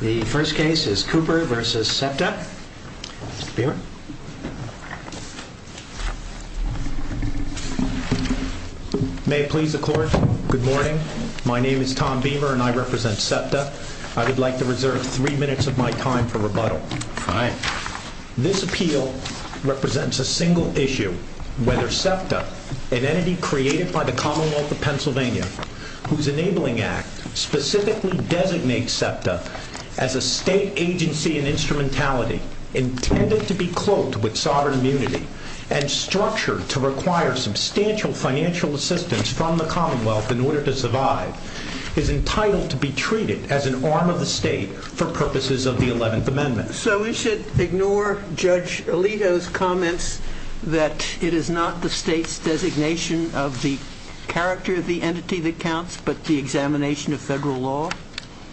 The first case is Cooper v. SEPTA. Beamer. May it please the court, good morning. My name is Tom Beamer and I represent SEPTA. I would like to reserve three minutes of my time for rebuttal. This appeal represents a single issue, whether SEPTA, an entity created by the Commonwealth of Pennsylvania, whose enabling act specifically designates SEPTA as a state agency and instrumentality, intended to be cloaked with sovereign immunity and structured to require substantial financial assistance from the Commonwealth in order to survive, is entitled to be treated as an arm of the state for purposes of the 11th Amendment. So we should ignore Judge Alito's comments that SEPTA is an entity that counts, but the examination of federal law?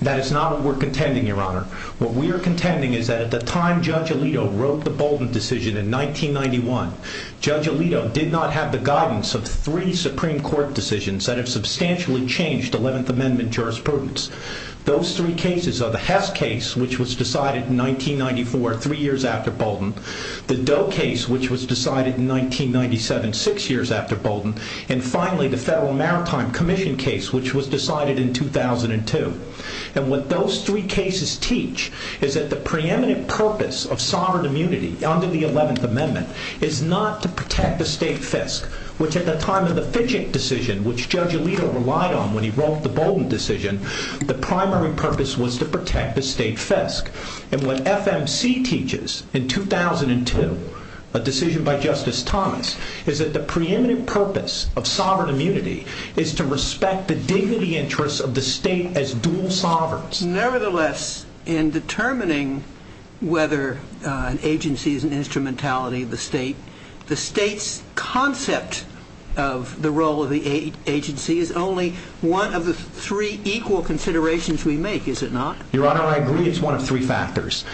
That is not what we are contending, Your Honor. What we are contending is that at the time Judge Alito wrote the Bolden decision in 1991, Judge Alito did not have the guidance of three Supreme Court decisions that have substantially changed 11th Amendment jurisprudence. Those three cases are the Hess case, which was decided in 1994, three years after Bolden, the Doe case, which was decided in 1997, six years after Bolden, and finally the Federal Maritime Commission case, which was decided in 2002. And what those three cases teach is that the preeminent purpose of sovereign immunity under the 11th Amendment is not to protect the state fisc, which at the time of the Fidget decision, which Judge Alito relied on when he wrote the Bolden decision, the primary purpose was to protect the state fisc. And what FMC teaches in 2002, a decision by Justice Thomas, is that the preeminent purpose of sovereign immunity is to respect the dignity interests of the state as dual sovereigns. Nevertheless, in determining whether an agency is an instrumentality of the state, the state's concept of the role of the agency is only one of the three equal considerations we make, is it not? Your Honor, I agree it's one of three factors.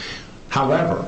However,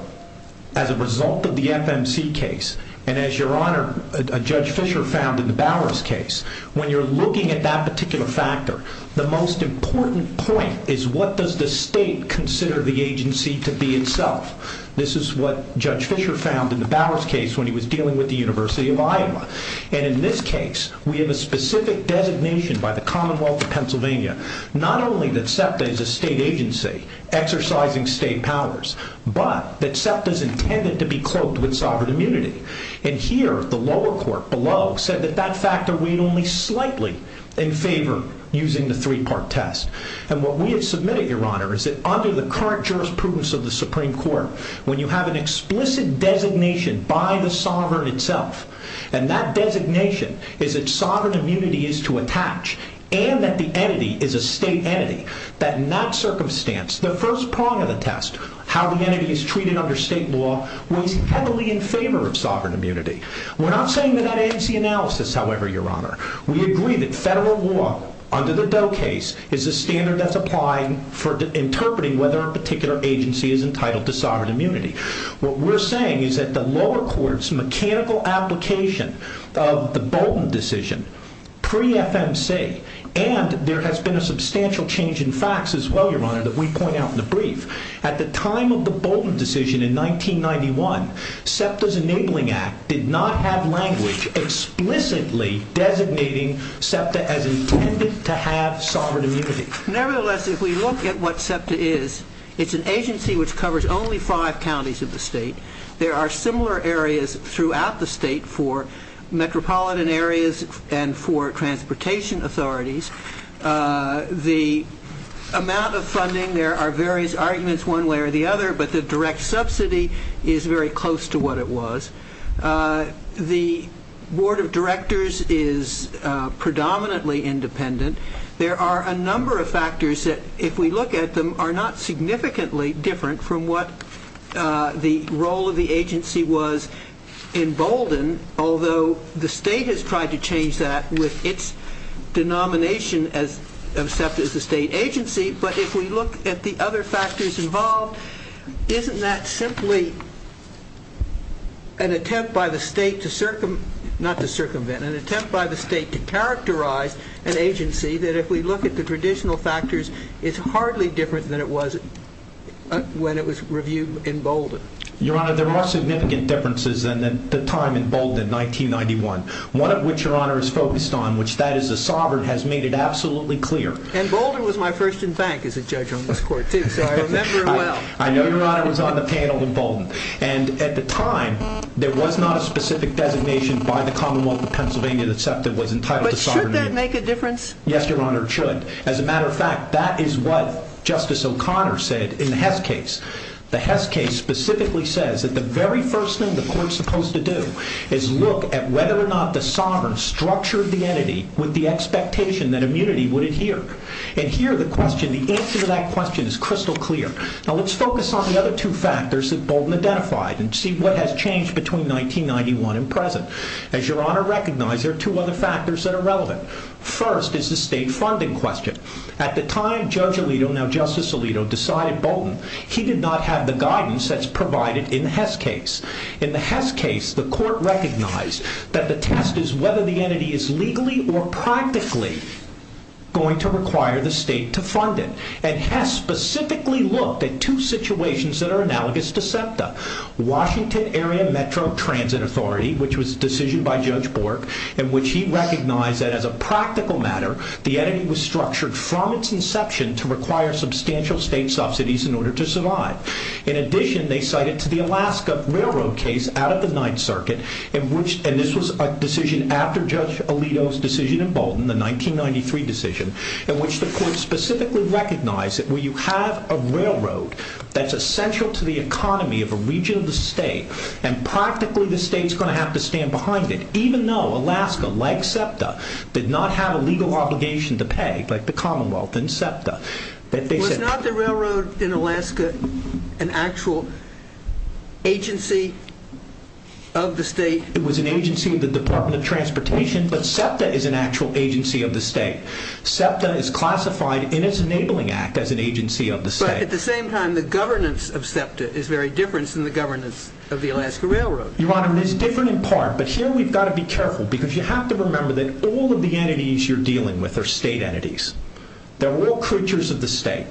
as a result of the FMC case, and as Your Honor, Judge Fischer found in the Bowers case, when you're looking at that particular factor, the most important point is what does the state consider the agency to be itself? This is what Judge Fischer found in the Bowers case when he was dealing with the University of Iowa. And in this case, we have a specific designation by the Commonwealth of Pennsylvania, not only that SEPTA is a state agency, exercising state powers, but that SEPTA is intended to be cloaked with sovereign immunity. And here, the lower court below said that that factor weighed only slightly in favor using the three-part test. And what we have submitted, Your Honor, is that under the current jurisprudence of the Supreme Court, when you have an explicit designation by the sovereign itself, and that designation is that sovereign immunity is to attach, and that the entity is a state entity, that in that circumstance, the first prong of the test, how the entity is treated under state law, weighs heavily in favor of sovereign immunity. We're not saying that that ends the analysis, however, Your Honor. We agree that federal law, under the Doe case, is a standard that's applying for interpreting whether a particular agency is entitled to sovereign immunity. What we're saying is that the lower court's mechanical application of the Bolton decision, pre-FMC, that we point out in the brief, at the time of the Bolton decision in 1991, SEPTA's Enabling Act did not have language explicitly designating SEPTA as intended to have sovereign immunity. Nevertheless, if we look at what SEPTA is, it's an agency which covers only five counties of the state. There are similar areas throughout the state for metropolitan areas and for transportation authorities. The amount of funding, there are various arguments one way or the other, but the direct subsidy is very close to what it was. The Board of Directors is predominantly independent. There are a number of factors that, if we look at them, are not significantly different from what the role of the agency was in Bolton, although the state has tried to change that with its denomination of SEPTA as a state agency, but if we look at the other factors involved, isn't that simply an attempt by the state to circumvent, not to circumvent, an attempt by the state to characterize an agency that, if we look at the traditional factors, is hardly different than it was when it was reviewed in Bolton? Your Honor, there are significant differences than at the time in Bolton in 1991. One of which, Your Honor, is focused on, which that is the sovereign, has made it absolutely clear. And Bolton was my first in bank as a judge on this court too, so I remember well. I know Your Honor was on the panel in Bolton. And at the time there was not a specific designation by the Commonwealth of Pennsylvania that SEPTA was entitled to sovereignty. But should that make a difference? Yes, Your Honor, it should. As a matter of fact, that is what Justice O'Connor said in the Hess case. The Hess case specifically says that the very first thing the court is supposed to do is look at whether or not the sovereign structured the entity with the expectation that immunity would adhere. And here the question, the answer to that question is crystal clear. Now let's focus on the other two factors that Bolton identified and see what has changed between 1991 and present. As Your Honor recognized, there are two other factors that are relevant. First is the state funding question. At the time, Judge Alito, now Justice Alito, decided Bolton, he did not have the guidance that's provided in the Hess case. In the Hess case, the court recognized that the test is whether the entity is legally or practically going to require the state to fund it. And Hess specifically looked at two situations that are analogous to SEPTA. Washington Area Metro Transit Authority, which was a decision by Judge Bork, in which he recognized that as a practical matter, the entity was structured from its inception to require substantial state subsidies in order to survive. In addition, they cited to the Alaska Railroad case out of the Ninth Circuit, and this was a decision after Judge Alito's decision in Bolton, the 1993 decision, in which the court specifically recognized that when you have a railroad that's essential to the economy of a region of the state, and practically the state's going to have to stand behind it, even though Alaska, like SEPTA, did not have a legal obligation to pay, like the Commonwealth and SEPTA. Was not the railroad in Alaska an actual agency of the state? It was an agency of the Department of Transportation, but SEPTA is an actual agency of the state. SEPTA is classified in its Enabling Act as an agency of the state. But at the same time, the governance of SEPTA is very different than the governance of the Alaska Railroad. Your Honor, it is different in part, but here we've got to be careful, because you have to remember that all of the entities you're dealing with are state entities. They're all creatures of the state.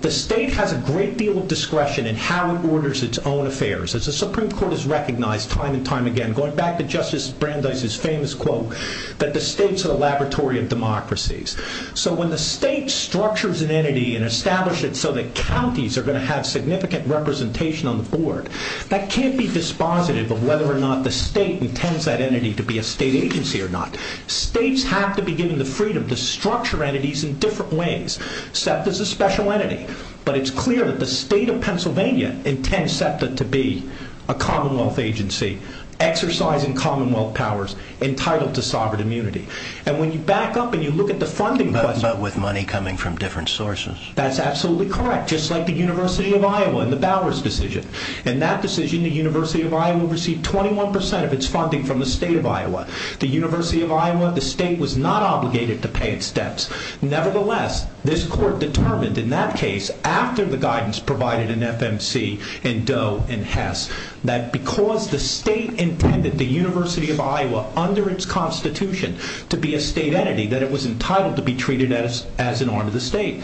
The state has a great deal of discretion in how it orders its own affairs. As the Supreme Court has recognized time and time again, going back to Justice Brandeis' famous quote, that the state's a laboratory of democracies. So when the state structures an entity and establishes it so that counties are going to have significant representation on the board, that can't be dispositive of whether or not the state intends that entity to be a state agency or not. States have to be given the freedom to structure entities in which case it's a special entity. But it's clear that the state of Pennsylvania intends SEPTA to be a commonwealth agency, exercising commonwealth powers entitled to sovereign immunity. And when you back up and you look at the funding... But with money coming from different sources. That's absolutely correct. Just like the University of Iowa and the Bowers decision. In that decision the University of Iowa received 21% of its funding from the state of Iowa. The University of Iowa, the state was not obligated to pay its debts. Nevertheless, this court determined in that case, after the guidance provided in FMC and Doe and Hess, that because the state intended the University of Iowa under its constitution to be a state entity, that it was entitled to be treated as an arm of the state.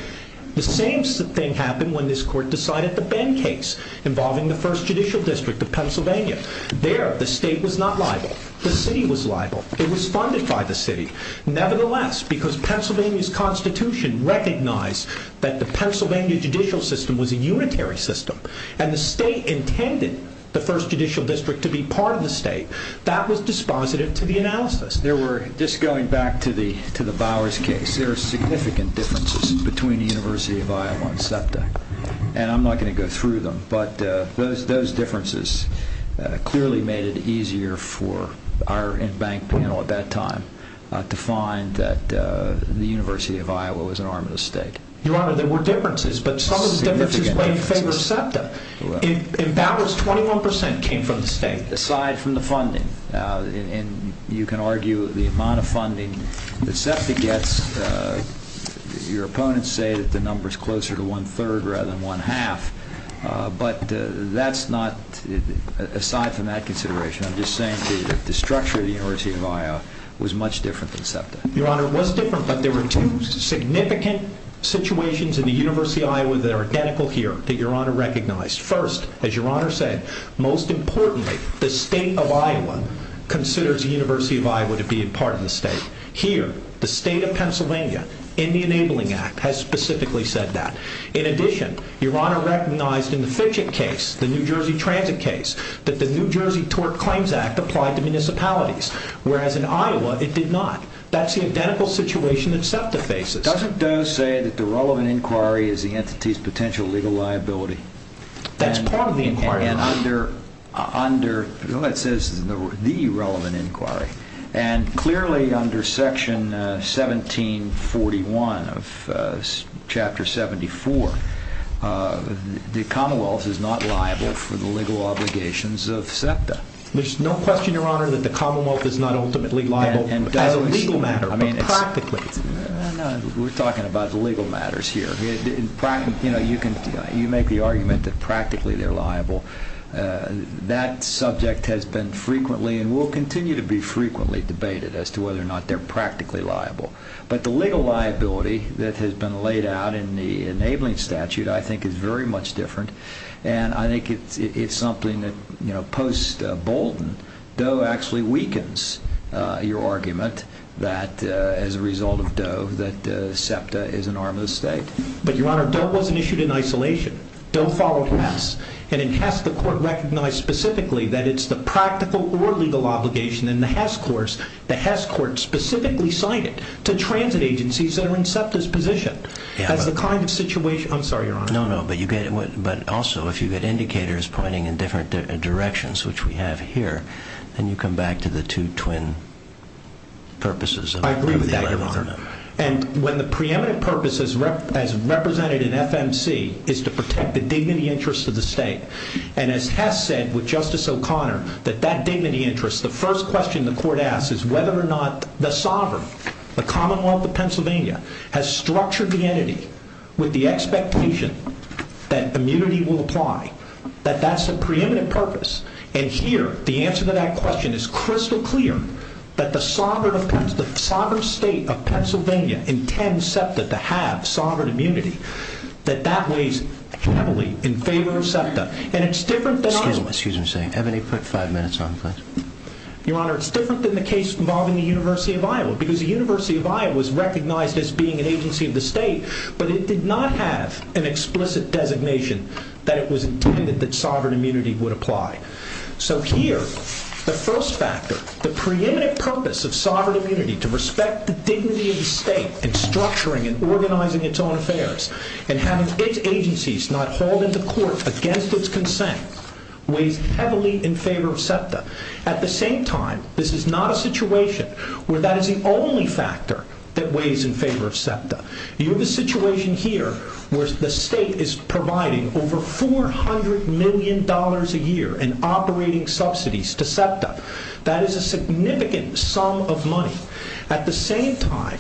The same thing happened when this court decided the Benn case involving the first judicial district of Pennsylvania. There the state was not liable. The city was liable. It was funded by the city. Nevertheless, because Pennsylvania's constitution recognized that the Pennsylvania judicial system was a unitary system, and the state intended the first judicial district to be part of the state, that was dispositive to the analysis. Just going back to the Bowers case, there are significant differences between the University of Iowa and SEPTA. And I'm not going to go through them, but those differences clearly made it easier for our in-bank panel at that time to find that the University of Iowa was an arm of the state. Your Honor, there were differences, but some of the differences were in favor of SEPTA. In Bowers, 21% came from the state. Aside from the funding, and you can argue the amount of funding that SEPTA gets, your opponents say that the number's closer to one-third rather than one-half, whereas the University of Iowa was much different than SEPTA. Your Honor, it was different, but there were two significant situations in the University of Iowa that are identical here that your Honor recognized. First, as your Honor said, most importantly, the state of Iowa considers the University of Iowa to be a part of the state. Here, the state of Pennsylvania in the Enabling Act has specifically said that. In addition, your Honor recognized in the Fitchett case, the New Jersey transit case, that the New Jersey Tort Claims Act applied to municipalities, whereas in Iowa, it did not. That's the identical situation that SEPTA faces. Doesn't Doe say that the relevant inquiry is the entity's potential legal liability? That's part of the inquiry, Your Honor. It says the relevant inquiry, and clearly under Section 1741 of Chapter 74, the Commonwealth is not liable for the legal obligations of SEPTA. There's no question, your Honor, that the Commonwealth is not ultimately liable as a legal matter, but practically. We're talking about legal matters here. You make the argument that practically they're liable. That subject has been frequently and will continue to be frequently debated as to whether or not they're practically liable. But the legal liability that has been laid out in the Enabling Statute I think is very much different, and I think it's something that post-Bolton, Doe actually weakens your argument that, as a result of Doe, that SEPTA is an arm of the state. But your Honor, Doe wasn't issued in isolation. Doe followed Hess, and in Hess, the court recognized specifically that it's the practical or legal obligation in the Hess course, the Hess court specifically signed it to transit agencies that are in SEPTA's position. I'm sorry, your Honor. But also, if you get indicators pointing in different directions, which we have here, then you come back to the two twin purposes. I agree with that, your Honor. And when the preeminent purpose as represented in FMC is to protect the dignity interests of the state, and as Hess said with Justice O'Connor, that that dignity interest, the first question the court asks is whether or not the sovereign, the Commonwealth of Pennsylvania, has structured the entity with the expectation that immunity will apply, that that's a preeminent purpose. And here, the answer to that question is crystal clear that the sovereign state of Pennsylvania intends SEPTA to have sovereign immunity, that that weighs heavily in favor of SEPTA. And it's different than... Excuse me, excuse me. Have any five minutes on, please. Your Honor, it's different than the case involving the University of Iowa, because the University of Iowa is recognized as being an agency of the state, but it did not have an explicit designation that it was intended that sovereign immunity would apply. So here, the first factor, the preeminent purpose of sovereign immunity to respect the dignity of the state in structuring and organizing its own affairs and having its agencies not hauled into court against its consent weighs heavily in favor of SEPTA. At the same time, this is not a situation where that is the only factor that weighs in favor of SEPTA. You have a situation here where the state is providing over $400 million a year in operating subsidies to SEPTA. That is a significant sum of money. At the same time,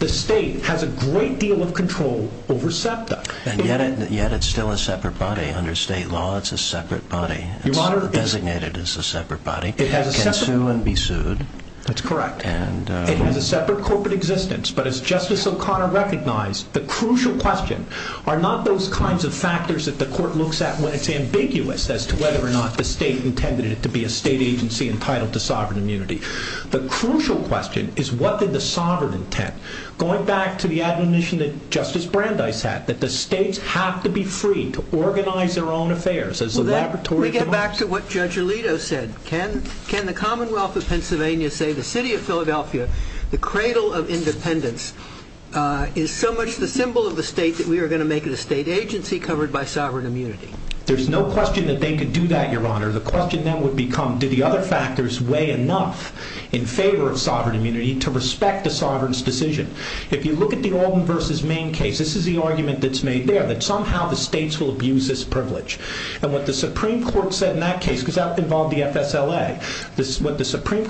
the state has a great deal of control over SEPTA. And yet it's still a separate body. Under state law, it's a separate body. Your Honor... It's designated as a separate body. It can sue and be sued. That's correct. It has a separate corporate existence, but as Justice O'Connor recognized, the crucial question are not those kinds of factors that the court looks at when it's ambiguous as to whether or not the state intended it to be a state agency entitled to sovereign immunity. The crucial question is what did the sovereign intent, going back to the admonition that Justice Brandeis had, that the states have to be free to organize their own affairs as the The question is, as Justice Brandeis said, can the Commonwealth of Pennsylvania say the city of Philadelphia, the cradle of independence, is so much the symbol of the state that we are going to make it a state agency covered by sovereign immunity? There's no question that they could do that, Your Honor. The question then would become do the other factors weigh enough in favor of sovereign immunity to respect the sovereign's decision? If you look at the FSLA, what the Supreme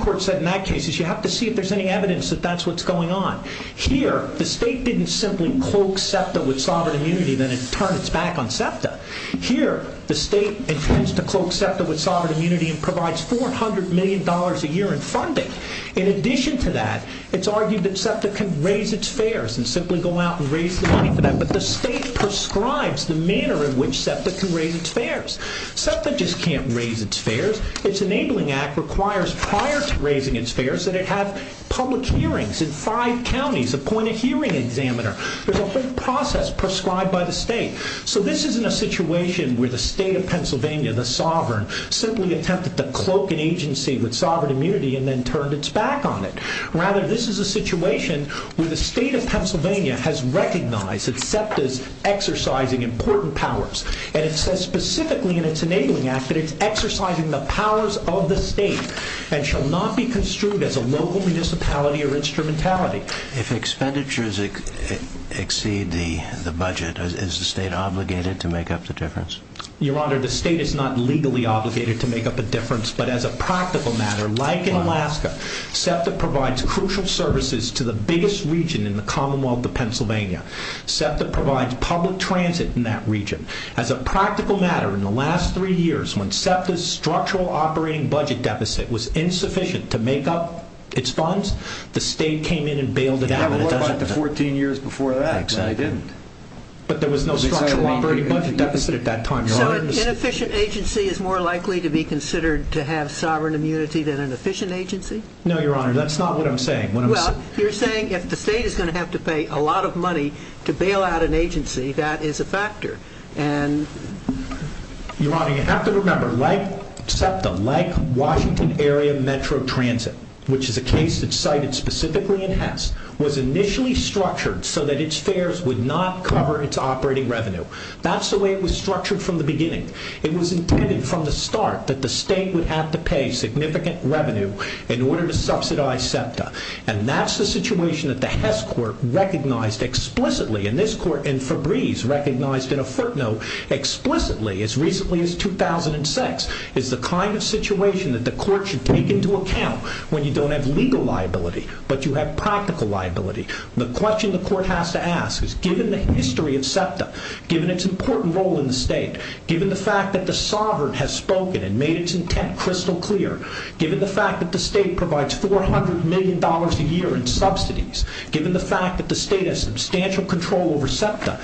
Court said in that case is you have to see if there's any evidence that that's what's going on. Here, the state didn't simply cloak SEPTA with sovereign immunity and then turn its back on SEPTA. Here, the state intends to cloak SEPTA with sovereign immunity and provides $400 million a year in funding. In addition to that, it's argued that SEPTA can raise its fares and simply go out and raise the money for that, but the state prescribes the manner in which SEPTA can raise its fares. SEPTA just can't raise its fares. Its Enabling Act requires prior to raising its fares that it have public hearings in five counties, appoint a hearing examiner. There's a whole process prescribed by the state. So this isn't a situation where the state of Pennsylvania, the sovereign, simply attempted to cloak an agency with sovereign immunity and then turned its back on it. Rather, this is a situation where the state of Pennsylvania has recognized that SEPTA's exercising important powers and it says specifically in its Enabling Act that it's exercising the powers of the state and shall not be construed as a local municipality or instrumentality. If expenditures exceed the budget, is the state obligated to make up the difference? Your Honor, the state is not legally obligated to make up a difference, but as a practical matter, like in Alaska, SEPTA provides crucial services to the biggest region in the Commonwealth of Pennsylvania. SEPTA provides public transit in that region. As a practical matter, in the last three years, when SEPTA's structural operating budget deficit was insufficient to make up its funds, the state came in and bailed it out. What about the 14 years before that? But there was no structural operating budget deficit at that time. So an inefficient agency is more likely to be considered to have sovereign immunity than an efficient agency? No, Your Honor, that's not what I'm saying. Well, you're saying if the state is going to have to pay a lot of money to bail out an agency, that is a factor. Your Honor, you have to remember SEPTA, like Washington Area Metro Transit, which is a case that's cited specifically in Hess, was initially structured so that its fares would not cover its operating revenue. That's the way it was structured from the beginning. It was intended from the start that the state would have to pay significant revenue in order to subsidize SEPTA. And that's the situation that the Hess court recognized explicitly, and this court and Febreze recognized in a footnote explicitly as recently as 2006 is the kind of situation that the court should take into account when you don't have legal liability, but you have practical liability. The question the court has to ask is, given the history of SEPTA, given its important role in the state, given the fact that the sovereign has spoken and made its intent crystal clear, given the fact that the state provides $400 million a year in subsidies, given the fact that the state has substantial control over SEPTA,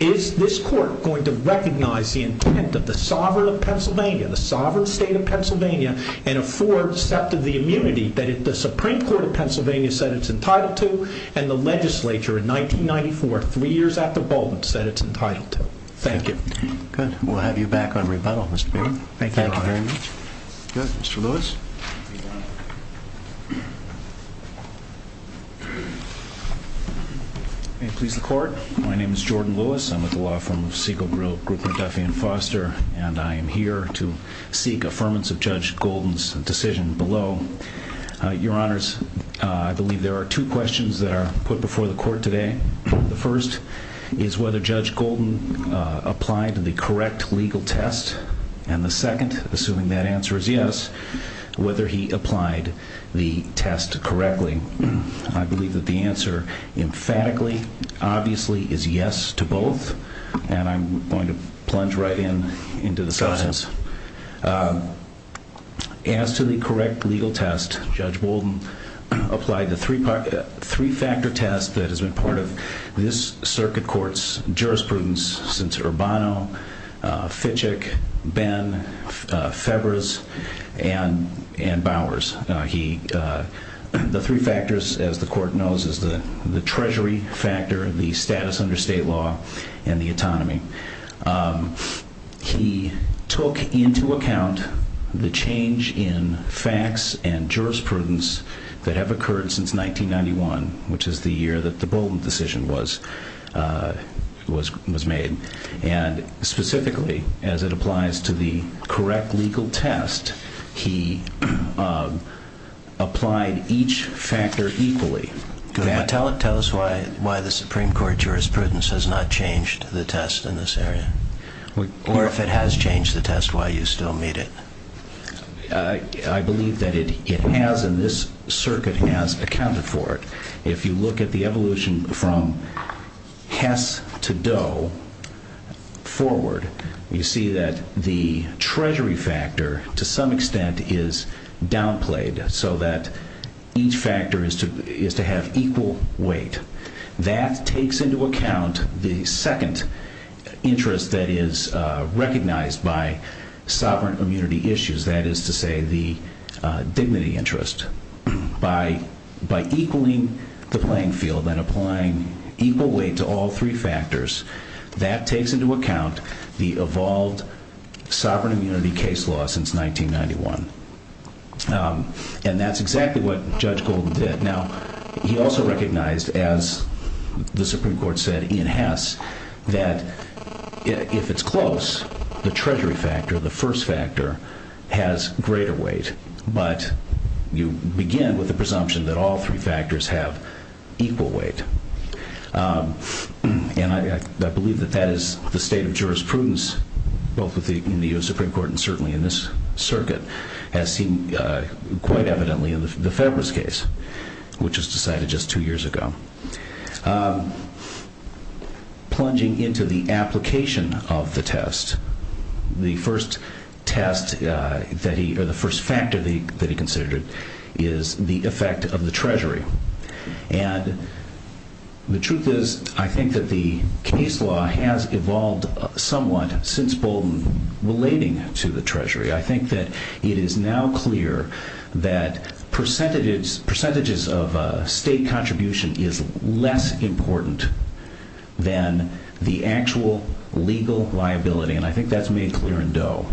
is this court going to recognize the intent of the sovereign of Pennsylvania, the sovereign state of Pennsylvania and afford SEPTA the immunity that the Supreme Court of Pennsylvania said it's entitled to and the legislature in 1994, three years after Bolton, said it's entitled to? Thank you. Good. We'll have you back on rebuttal, Mr. Baird. Thank you, Your Honor. Good. Mr. Lewis? Thank you, Your Honor. May it please the court, my name is Jordan Lewis. I'm with the law firm of Segal, Grill, Grouper, Duffy and Foster, and I am here to seek affirmance of Judge Golden's decision below. Your Honors, I believe there are two questions that are put before the court today. The first is whether Judge Golden applied to the correct legal test, and the second, assuming that answer is yes, whether he applied the test correctly. I believe that the answer emphatically obviously is yes to both, and I'm going to plunge right into the substance. As to the correct legal test, Judge Golden applied the three-factor test that has been part of this circuit court's jurisprudence since Urbano, Fitchick, Ben, Fevers, and Bowers. The three factors, as the court knows, is the treasury factor, the status under state law, and the autonomy. He took into account the change in facts and jurisprudence that have occurred since 1991, which is the year that the Bolton decision was made, and specifically, as it applies to the correct legal test, he applied each factor equally. Tell us why the Supreme Court jurisprudence has not changed the test in this area, or if it has changed the test, why you still meet it. I believe that it has, and this circuit has accounted for it. If you look at the evolution from Kess to Doe forward, you see that the treasury factor, to some extent, is downplayed so that each factor is to have equal weight. That takes into account the second interest that is recognized by sovereign immunity issues, that is to say, the dignity interest. By equaling the playing field and all three factors, that takes into account the evolved sovereign immunity case law since 1991. And that's exactly what Judge Golden did. Now, he also recognized, as the Supreme Court said in Hess, that if it's close, the treasury factor, the first factor, has greater weight, but you begin with the presumption that all three factors have equal weight. And I believe that that is the state of jurisprudence, both in the U.S. Supreme Court and certainly in this circuit, as seen quite evidently in the Federalist case, which was decided just two years ago. Plunging into the application of the test, the first test that he, or the first factor that he considered is the effect of the treasury. And the truth is, I think that the case law has evolved somewhat since Bolton relating to the treasury. I think that it is now clear that percentages of state contribution is less important than the actual legal liability. And I think that's made clear in Doe.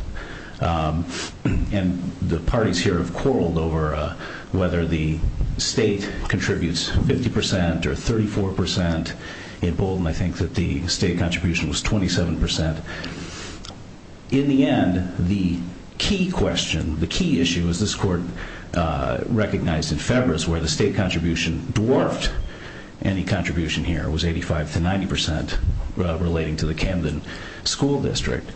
And the parties here have quarreled over whether the state contributes 50 percent or 34 percent. In Bolton, I think that the state contribution was 27 percent. In the end, the key question, the key issue, as this Court recognized in February, is where the state contribution dwarfed any contribution here. It was 85 to 90 percent relating to the Camden school district.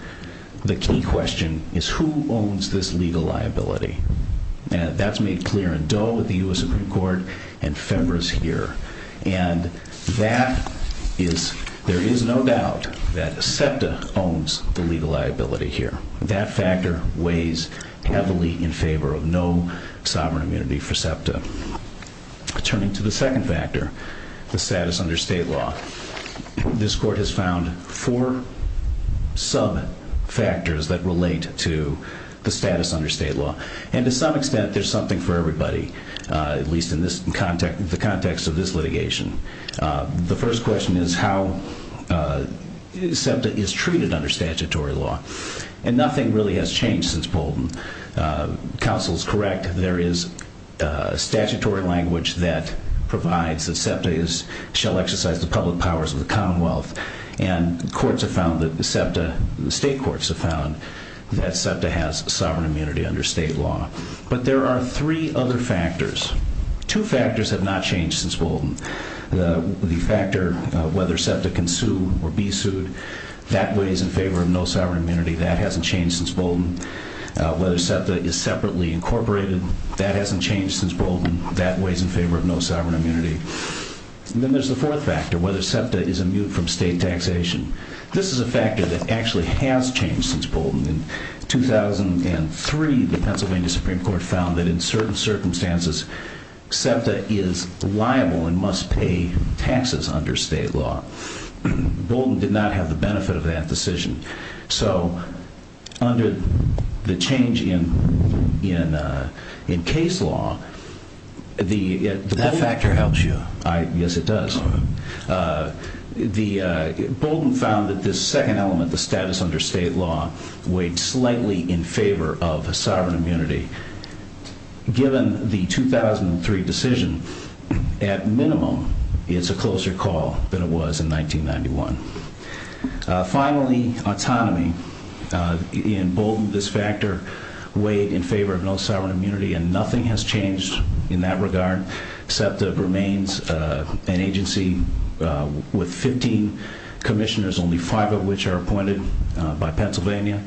The key question is who owns this legal liability. And that's made clear in Doe, the U.S. Supreme Court, and February's here. And that is there is no doubt that SEPTA owns the legal liability here. That factor weighs heavily in favor of no sovereign immunity for SEPTA. Turning to the second factor, the status under state law. This Court has found four sub-factors that relate to the status under state law. And to some extent, there's something for everybody, at least in the context of this litigation. The first question is how SEPTA is treated under statutory law. And nothing really has changed since Bolton. Counsel is correct. There is statutory language that provides that SEPTA shall exercise the public powers of the Commonwealth. And courts have found that SEPTA state courts have found that SEPTA has sovereign immunity under state law. But there are three other factors. Two factors have not changed since Bolton. The factor of whether SEPTA can sue or be sued, that weighs in favor of no sovereign immunity. That hasn't changed since Bolton. Whether SEPTA is separately incorporated, that hasn't changed since Bolton. That weighs in favor of no sovereign immunity. And then there's the fourth factor, whether SEPTA is immune from state taxation. This is a factor that actually has changed since Bolton. In 2003, the Pennsylvania Supreme Court found that in certain circumstances, SEPTA is liable and must pay taxes under state law. Bolton did not have the benefit of that decision. So under the change in case law, That factor helps you. Yes, it does. Bolton found that this second element, the status under state law, weighed slightly in favor of sovereign immunity. Given the 2003 decision, at minimum, it's a closer call than it was in 1991. Finally, autonomy. In Bolton, this factor weighed in favor of no sovereign immunity, and nothing has changed in that regard except that SEPTA remains an agency with 15 commissioners, only five of which are appointed by Pennsylvania.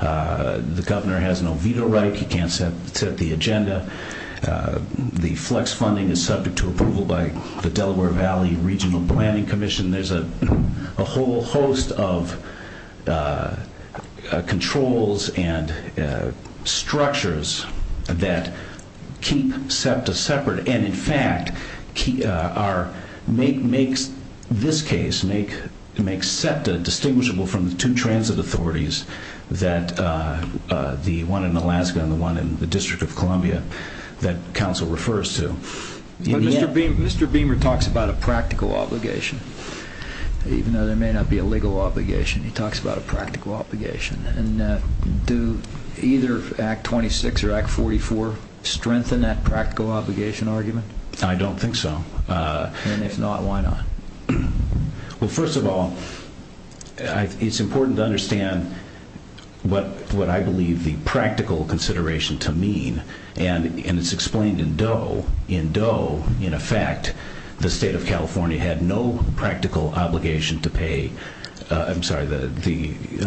The governor has no veto right. He can't set the agenda. The flex funding is subject to approval by the Delaware Valley Regional Planning Commission. There's a whole host of controls and structures that keep SEPTA separate. In fact, this case makes SEPTA distinguishable from the two transit authorities, the one in Alaska and the one in the District of Columbia that counsel refers to. Mr. Beamer talks about a practical obligation. Even though there may not be a legal obligation, he talks about a practical obligation. Do either Act 26 or Act 44 strengthen that practical obligation argument? I don't think so. And if not, why not? Well, first of all, it's important to understand what I believe the practical consideration to mean, and it's explained in Doe. In Doe, in effect, the state of California had no practical obligation to pay the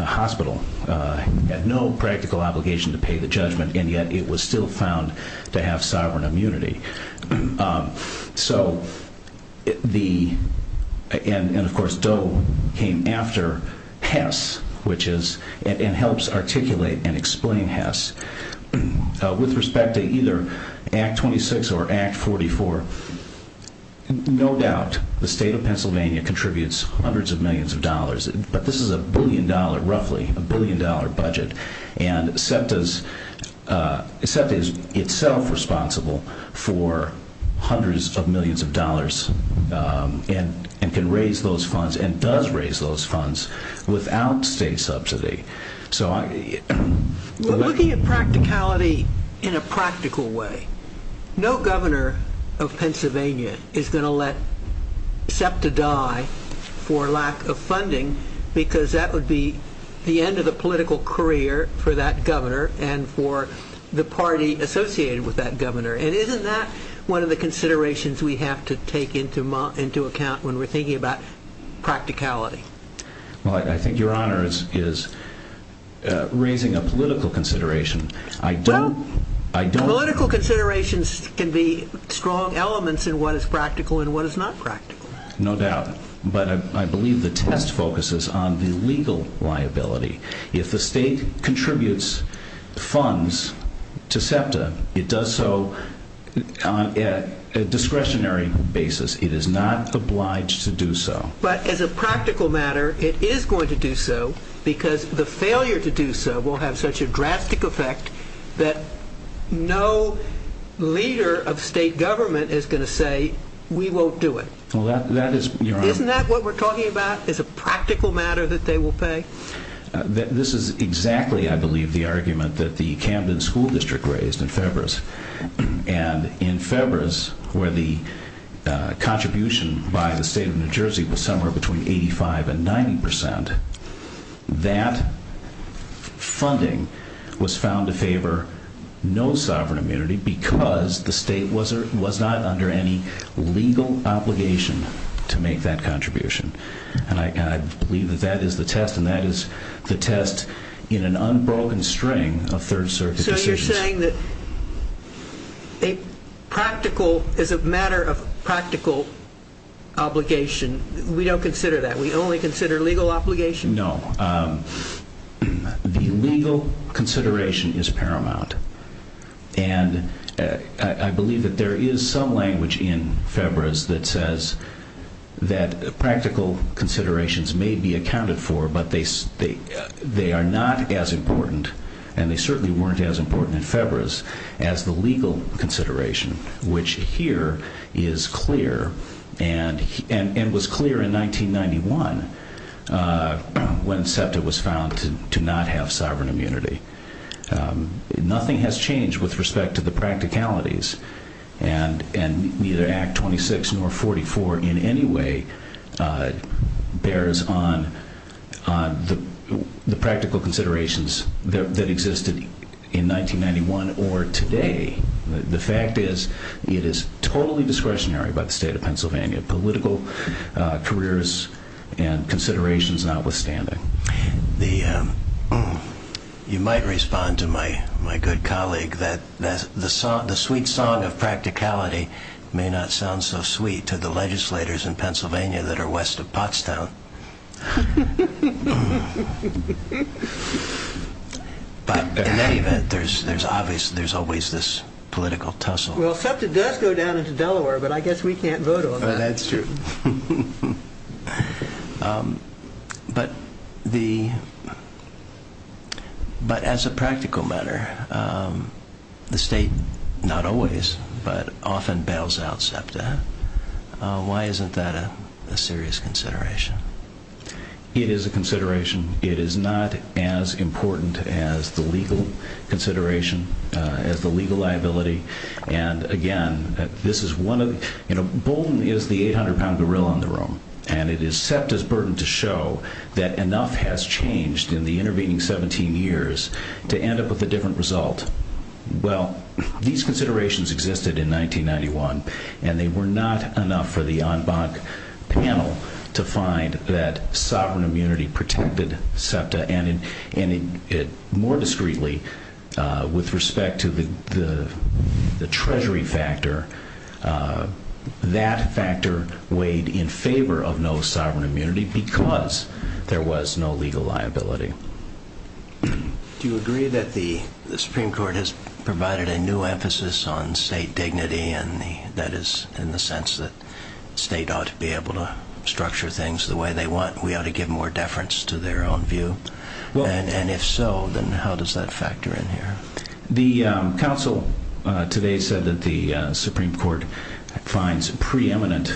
hospital, had no practical obligation to pay the judgment, and yet it was still found to have sovereign immunity. And of course, Doe came after Hess, and helps articulate and explain Hess. With respect to either Act 26 or Act 44, no doubt the state of Pennsylvania contributes hundreds of millions of dollars, but this is a billion dollar, roughly, a billion dollar budget, and SEPTA is itself responsible for hundreds of millions of dollars, and can raise those funds, and does raise those funds, without state subsidy. Looking at practicality in a practical way, no governor of Pennsylvania is going to let SEPTA die for lack of funding because that would be the end of the political career for that governor and for the party associated with that governor, and isn't that one of the considerations we have to take into account when we're thinking about practicality? Well, I think your honor is raising a political consideration. I don't... Well, political considerations can be strong elements in what is practical and what is not practical. No doubt, but I believe the test focuses on the legal liability. If the state contributes funds to SEPTA, it does so on a discretionary basis. It is not obliged to do so. But as a practical matter, it is going to do so because the failure to do so will have such a drastic effect that no leader of state government is going to say, we won't do it. Isn't that what we're talking about, is a practical matter that they will pay? This is exactly, I believe, the argument that the Camden School District raised in February, and in February, where the contribution by the state of New Jersey was somewhere between 85 and 90 percent, that funding was found to favor no sovereign immunity because the state was not under any legal obligation to make that contribution. And I believe that that is the test, and that is the test in an unbroken string of Third Circuit decisions. So you're saying that a practical, as a matter of practical obligation, we don't consider that. We only consider legal obligation? No. The legal consideration is paramount. And I believe that there is some language in FEBRAs that says that practical considerations may be accounted for, but they are not as important and they certainly weren't as important in FEBRAs as the legal consideration, which here is clear and was clear in 1991 when SEPTA was found to not have sovereign immunity. Nothing has changed with respect to the practicalities and neither Act 26 nor 44 in any way bears on the practical considerations that existed in 1991 or today. The fact is it is totally discretionary by the state of Pennsylvania, political careers and considerations notwithstanding. You might respond to my good colleague that the sweet song of practicality may not sound so sweet to the legislators in Pennsylvania that are west of Pottstown. But in any event, there's always this political tussle. Well, SEPTA does go down into Delaware, but I guess we can't vote on that. Oh, that's true. But as a practical matter, the state, not always, but often bails out SEPTA. Why isn't that a serious consideration? It is a consideration. It is not as important as the legal consideration, as the legal liability, and again, this is one of the Bolton is the 800-pound gorilla in the room, and it is SEPTA's burden to show that enough has changed in the intervening 17 years to end up with a different result. Well, these considerations existed in 1991, and they were not enough for the en banc panel to find that sovereign immunity protected SEPTA, and more discreetly with respect to the treasury factor, that factor weighed in favor of no sovereign immunity because there was no legal liability. Do you agree that the Supreme Court has provided a new emphasis on state dignity, and that is in the sense that the state ought to be able to structure things the way they want, and we ought to give more deference to their own view? And if so, then how does that factor in here? The Supreme Court finds preeminent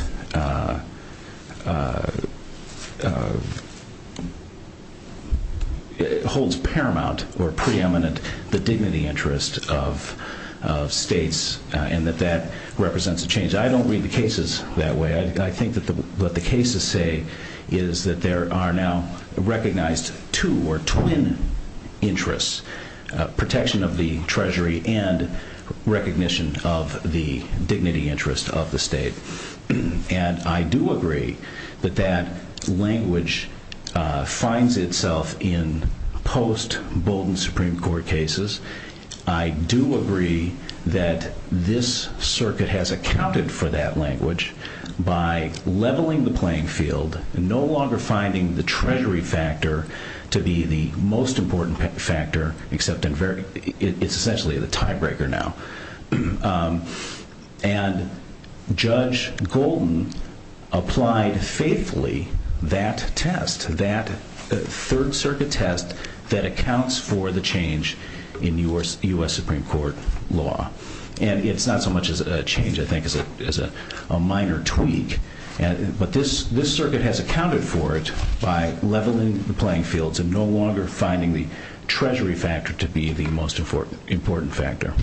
holds paramount or preeminent the dignity interest of states, and that that represents a change. I don't read the cases that way. I think that what the cases say is that there are now recognized two or twin interests, protection of the treasury and recognition of the dignity interest of the state. And I do agree that that language finds itself in post-Bolton Supreme Court cases. I do agree that this circuit has accounted for that language by leveling the playing field, no longer finding the treasury factor to be the most important factor, except in it's essentially the tiebreaker now. And Judge Golden applied faithfully that test, that third circuit test that accounts for the change in U.S. Supreme Court law. And it's not so much as a change, I think, as a minor tweak, but this circuit has accounted for it by leveling the playing fields and no longer finding the treasury factor to be the most important factor.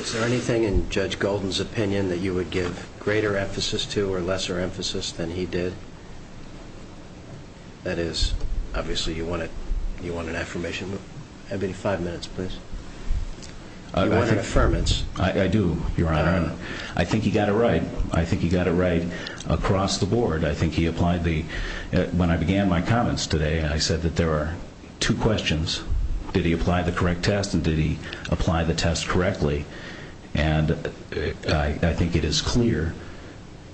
Is there anything in Judge Golden's opinion that you would give greater emphasis to or lesser emphasis than he did? That is, obviously you want an affirmation. I'll give you five minutes, please. You want an affirmance. I do, Your Honor. I think he got it right. I think he got it right across the board. I think he applied the, when I began my comments today, I said that there are two questions. Did he apply the correct test and did he apply the test correctly? And I think it is clear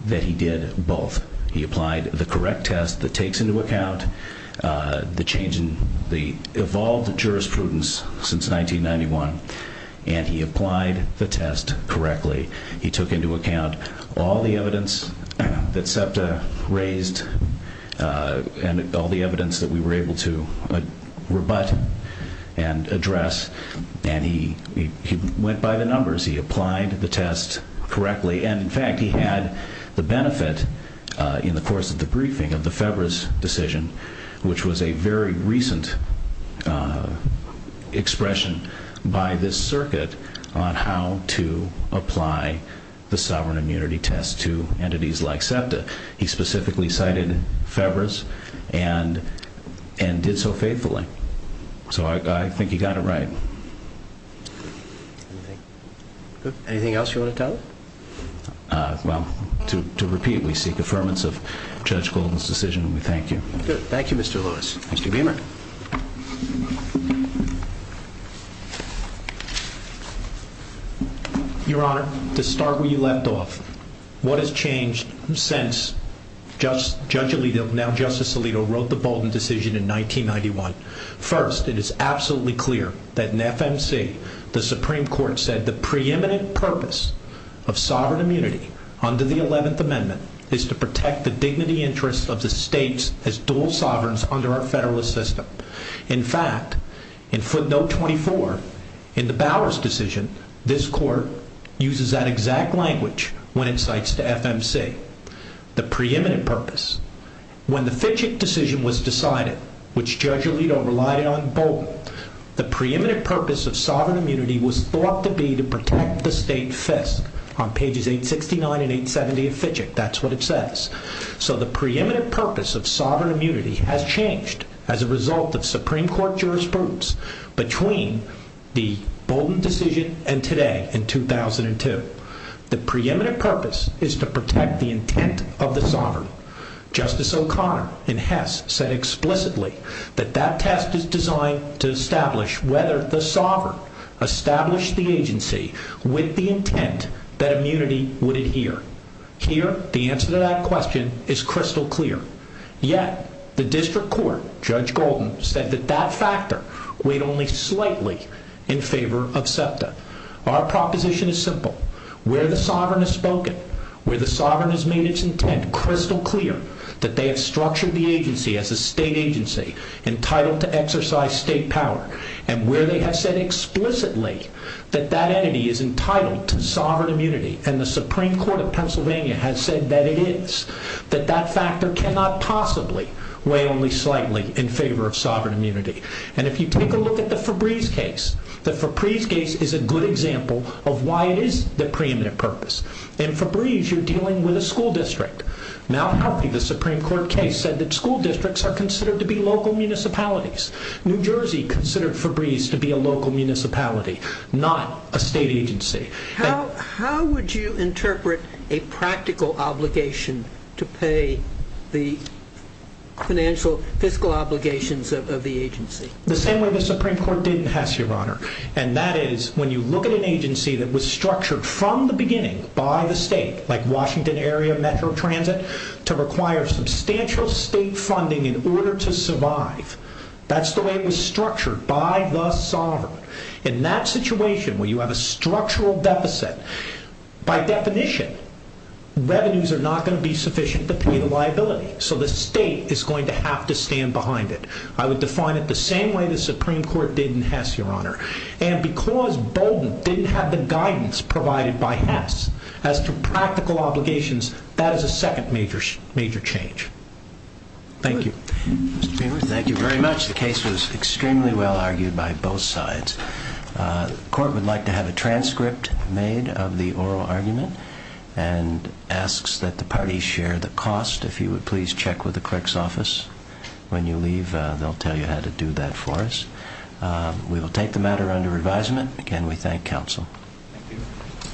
that he did both. He applied the correct test that takes into account the change in the evolved jurisprudence since 1991 and he applied the test correctly. He took into account all the evidence that SEPTA raised and all the evidence that we were able to rebut and address and he went by the numbers. He applied the test correctly and, in fact, he had the benefit in the course of the briefing of the FEBRA's decision, which was a very recent expression by this circuit on how to apply the sovereign immunity test to entities like SEPTA. He specifically cited FEBRA's and did so faithfully. So I think he got it right. Anything else you want to tell us? Well, to repeat, we seek affirmance of Judge Golden's decision and we thank you. Thank you, Mr. Lewis. Mr. Beamer. Your Honor, to start where you left off, what has changed since Judge Alito, now Justice Alito, wrote the Bolton decision in 1991. First, it is absolutely clear that in FMC, the Supreme Court said the preeminent purpose of sovereign immunity under the 11th Amendment is to protect the dignity interests of the states as dual sovereigns under our Federalist system. In fact, in footnote 24, in the Bowers decision, this court uses that exact language when it cites to FMC. The preeminent purpose. When the Fitchick decision was decided, which Judge Alito relied on in Bolton, the preeminent purpose of sovereign immunity was thought to be to protect the state fist on pages 869 and 870 of Fitchick. That's what it says. So the preeminent purpose of sovereign immunity has changed as a result of Supreme Court jurisprudence between the 1990s and 2002. The preeminent purpose is to protect the intent of the sovereign. Justice O'Connor in Hess said explicitly that that test is designed to establish whether the sovereign established the agency with the intent that immunity would adhere. Here, the answer to that question is crystal clear. Yet, the District Court, Judge Golden, said that that factor weighed only slightly in favor of SEPTA. Our proposition is simple. Where the sovereign has spoken, where the sovereign has made its intent crystal clear that they have structured the agency as a state agency entitled to exercise state power, and where they have said explicitly that that entity is entitled to sovereign immunity, and the Supreme Court of Pennsylvania has said that it is, that that factor cannot possibly weigh only slightly in favor of sovereign immunity. And if you take a look at the Febreeze case, the Febreeze case is a good example of why it is the preeminent purpose. In Febreeze, you're dealing with a school district. Malhelfie, the Supreme Court case, said that school districts are considered to be local municipalities. New Jersey considered Febreeze to be a local municipality, not a state agency. How would you interpret a practical obligation to pay the financial, fiscal obligations of the agency? The same way the Supreme Court did in Hess, Your Honor, and that is when you look at an agency that was structured from the beginning by the state, like Washington Area Metro Transit, to require substantial state funding in order to survive, that's the way it was structured by the sovereign. In that situation, where you have a structural deficit, by definition, revenues are not going to be sufficient to pay the liability, so the state is going to have to stand behind it. I would define it the same way the Supreme Court did in Hess, Your Honor, and because Bolden didn't have the guidance provided by Hess as to practical obligations, that is a second major change. Thank you. Thank you very much. The case was extremely well argued by both sides. The Court would like to have a transcript made of the oral argument and asks that the parties share the cost, if you would please check with the clerk's office. When you leave, they'll tell you how to do that for us. We will take the matter under advisement. Again, we thank counsel.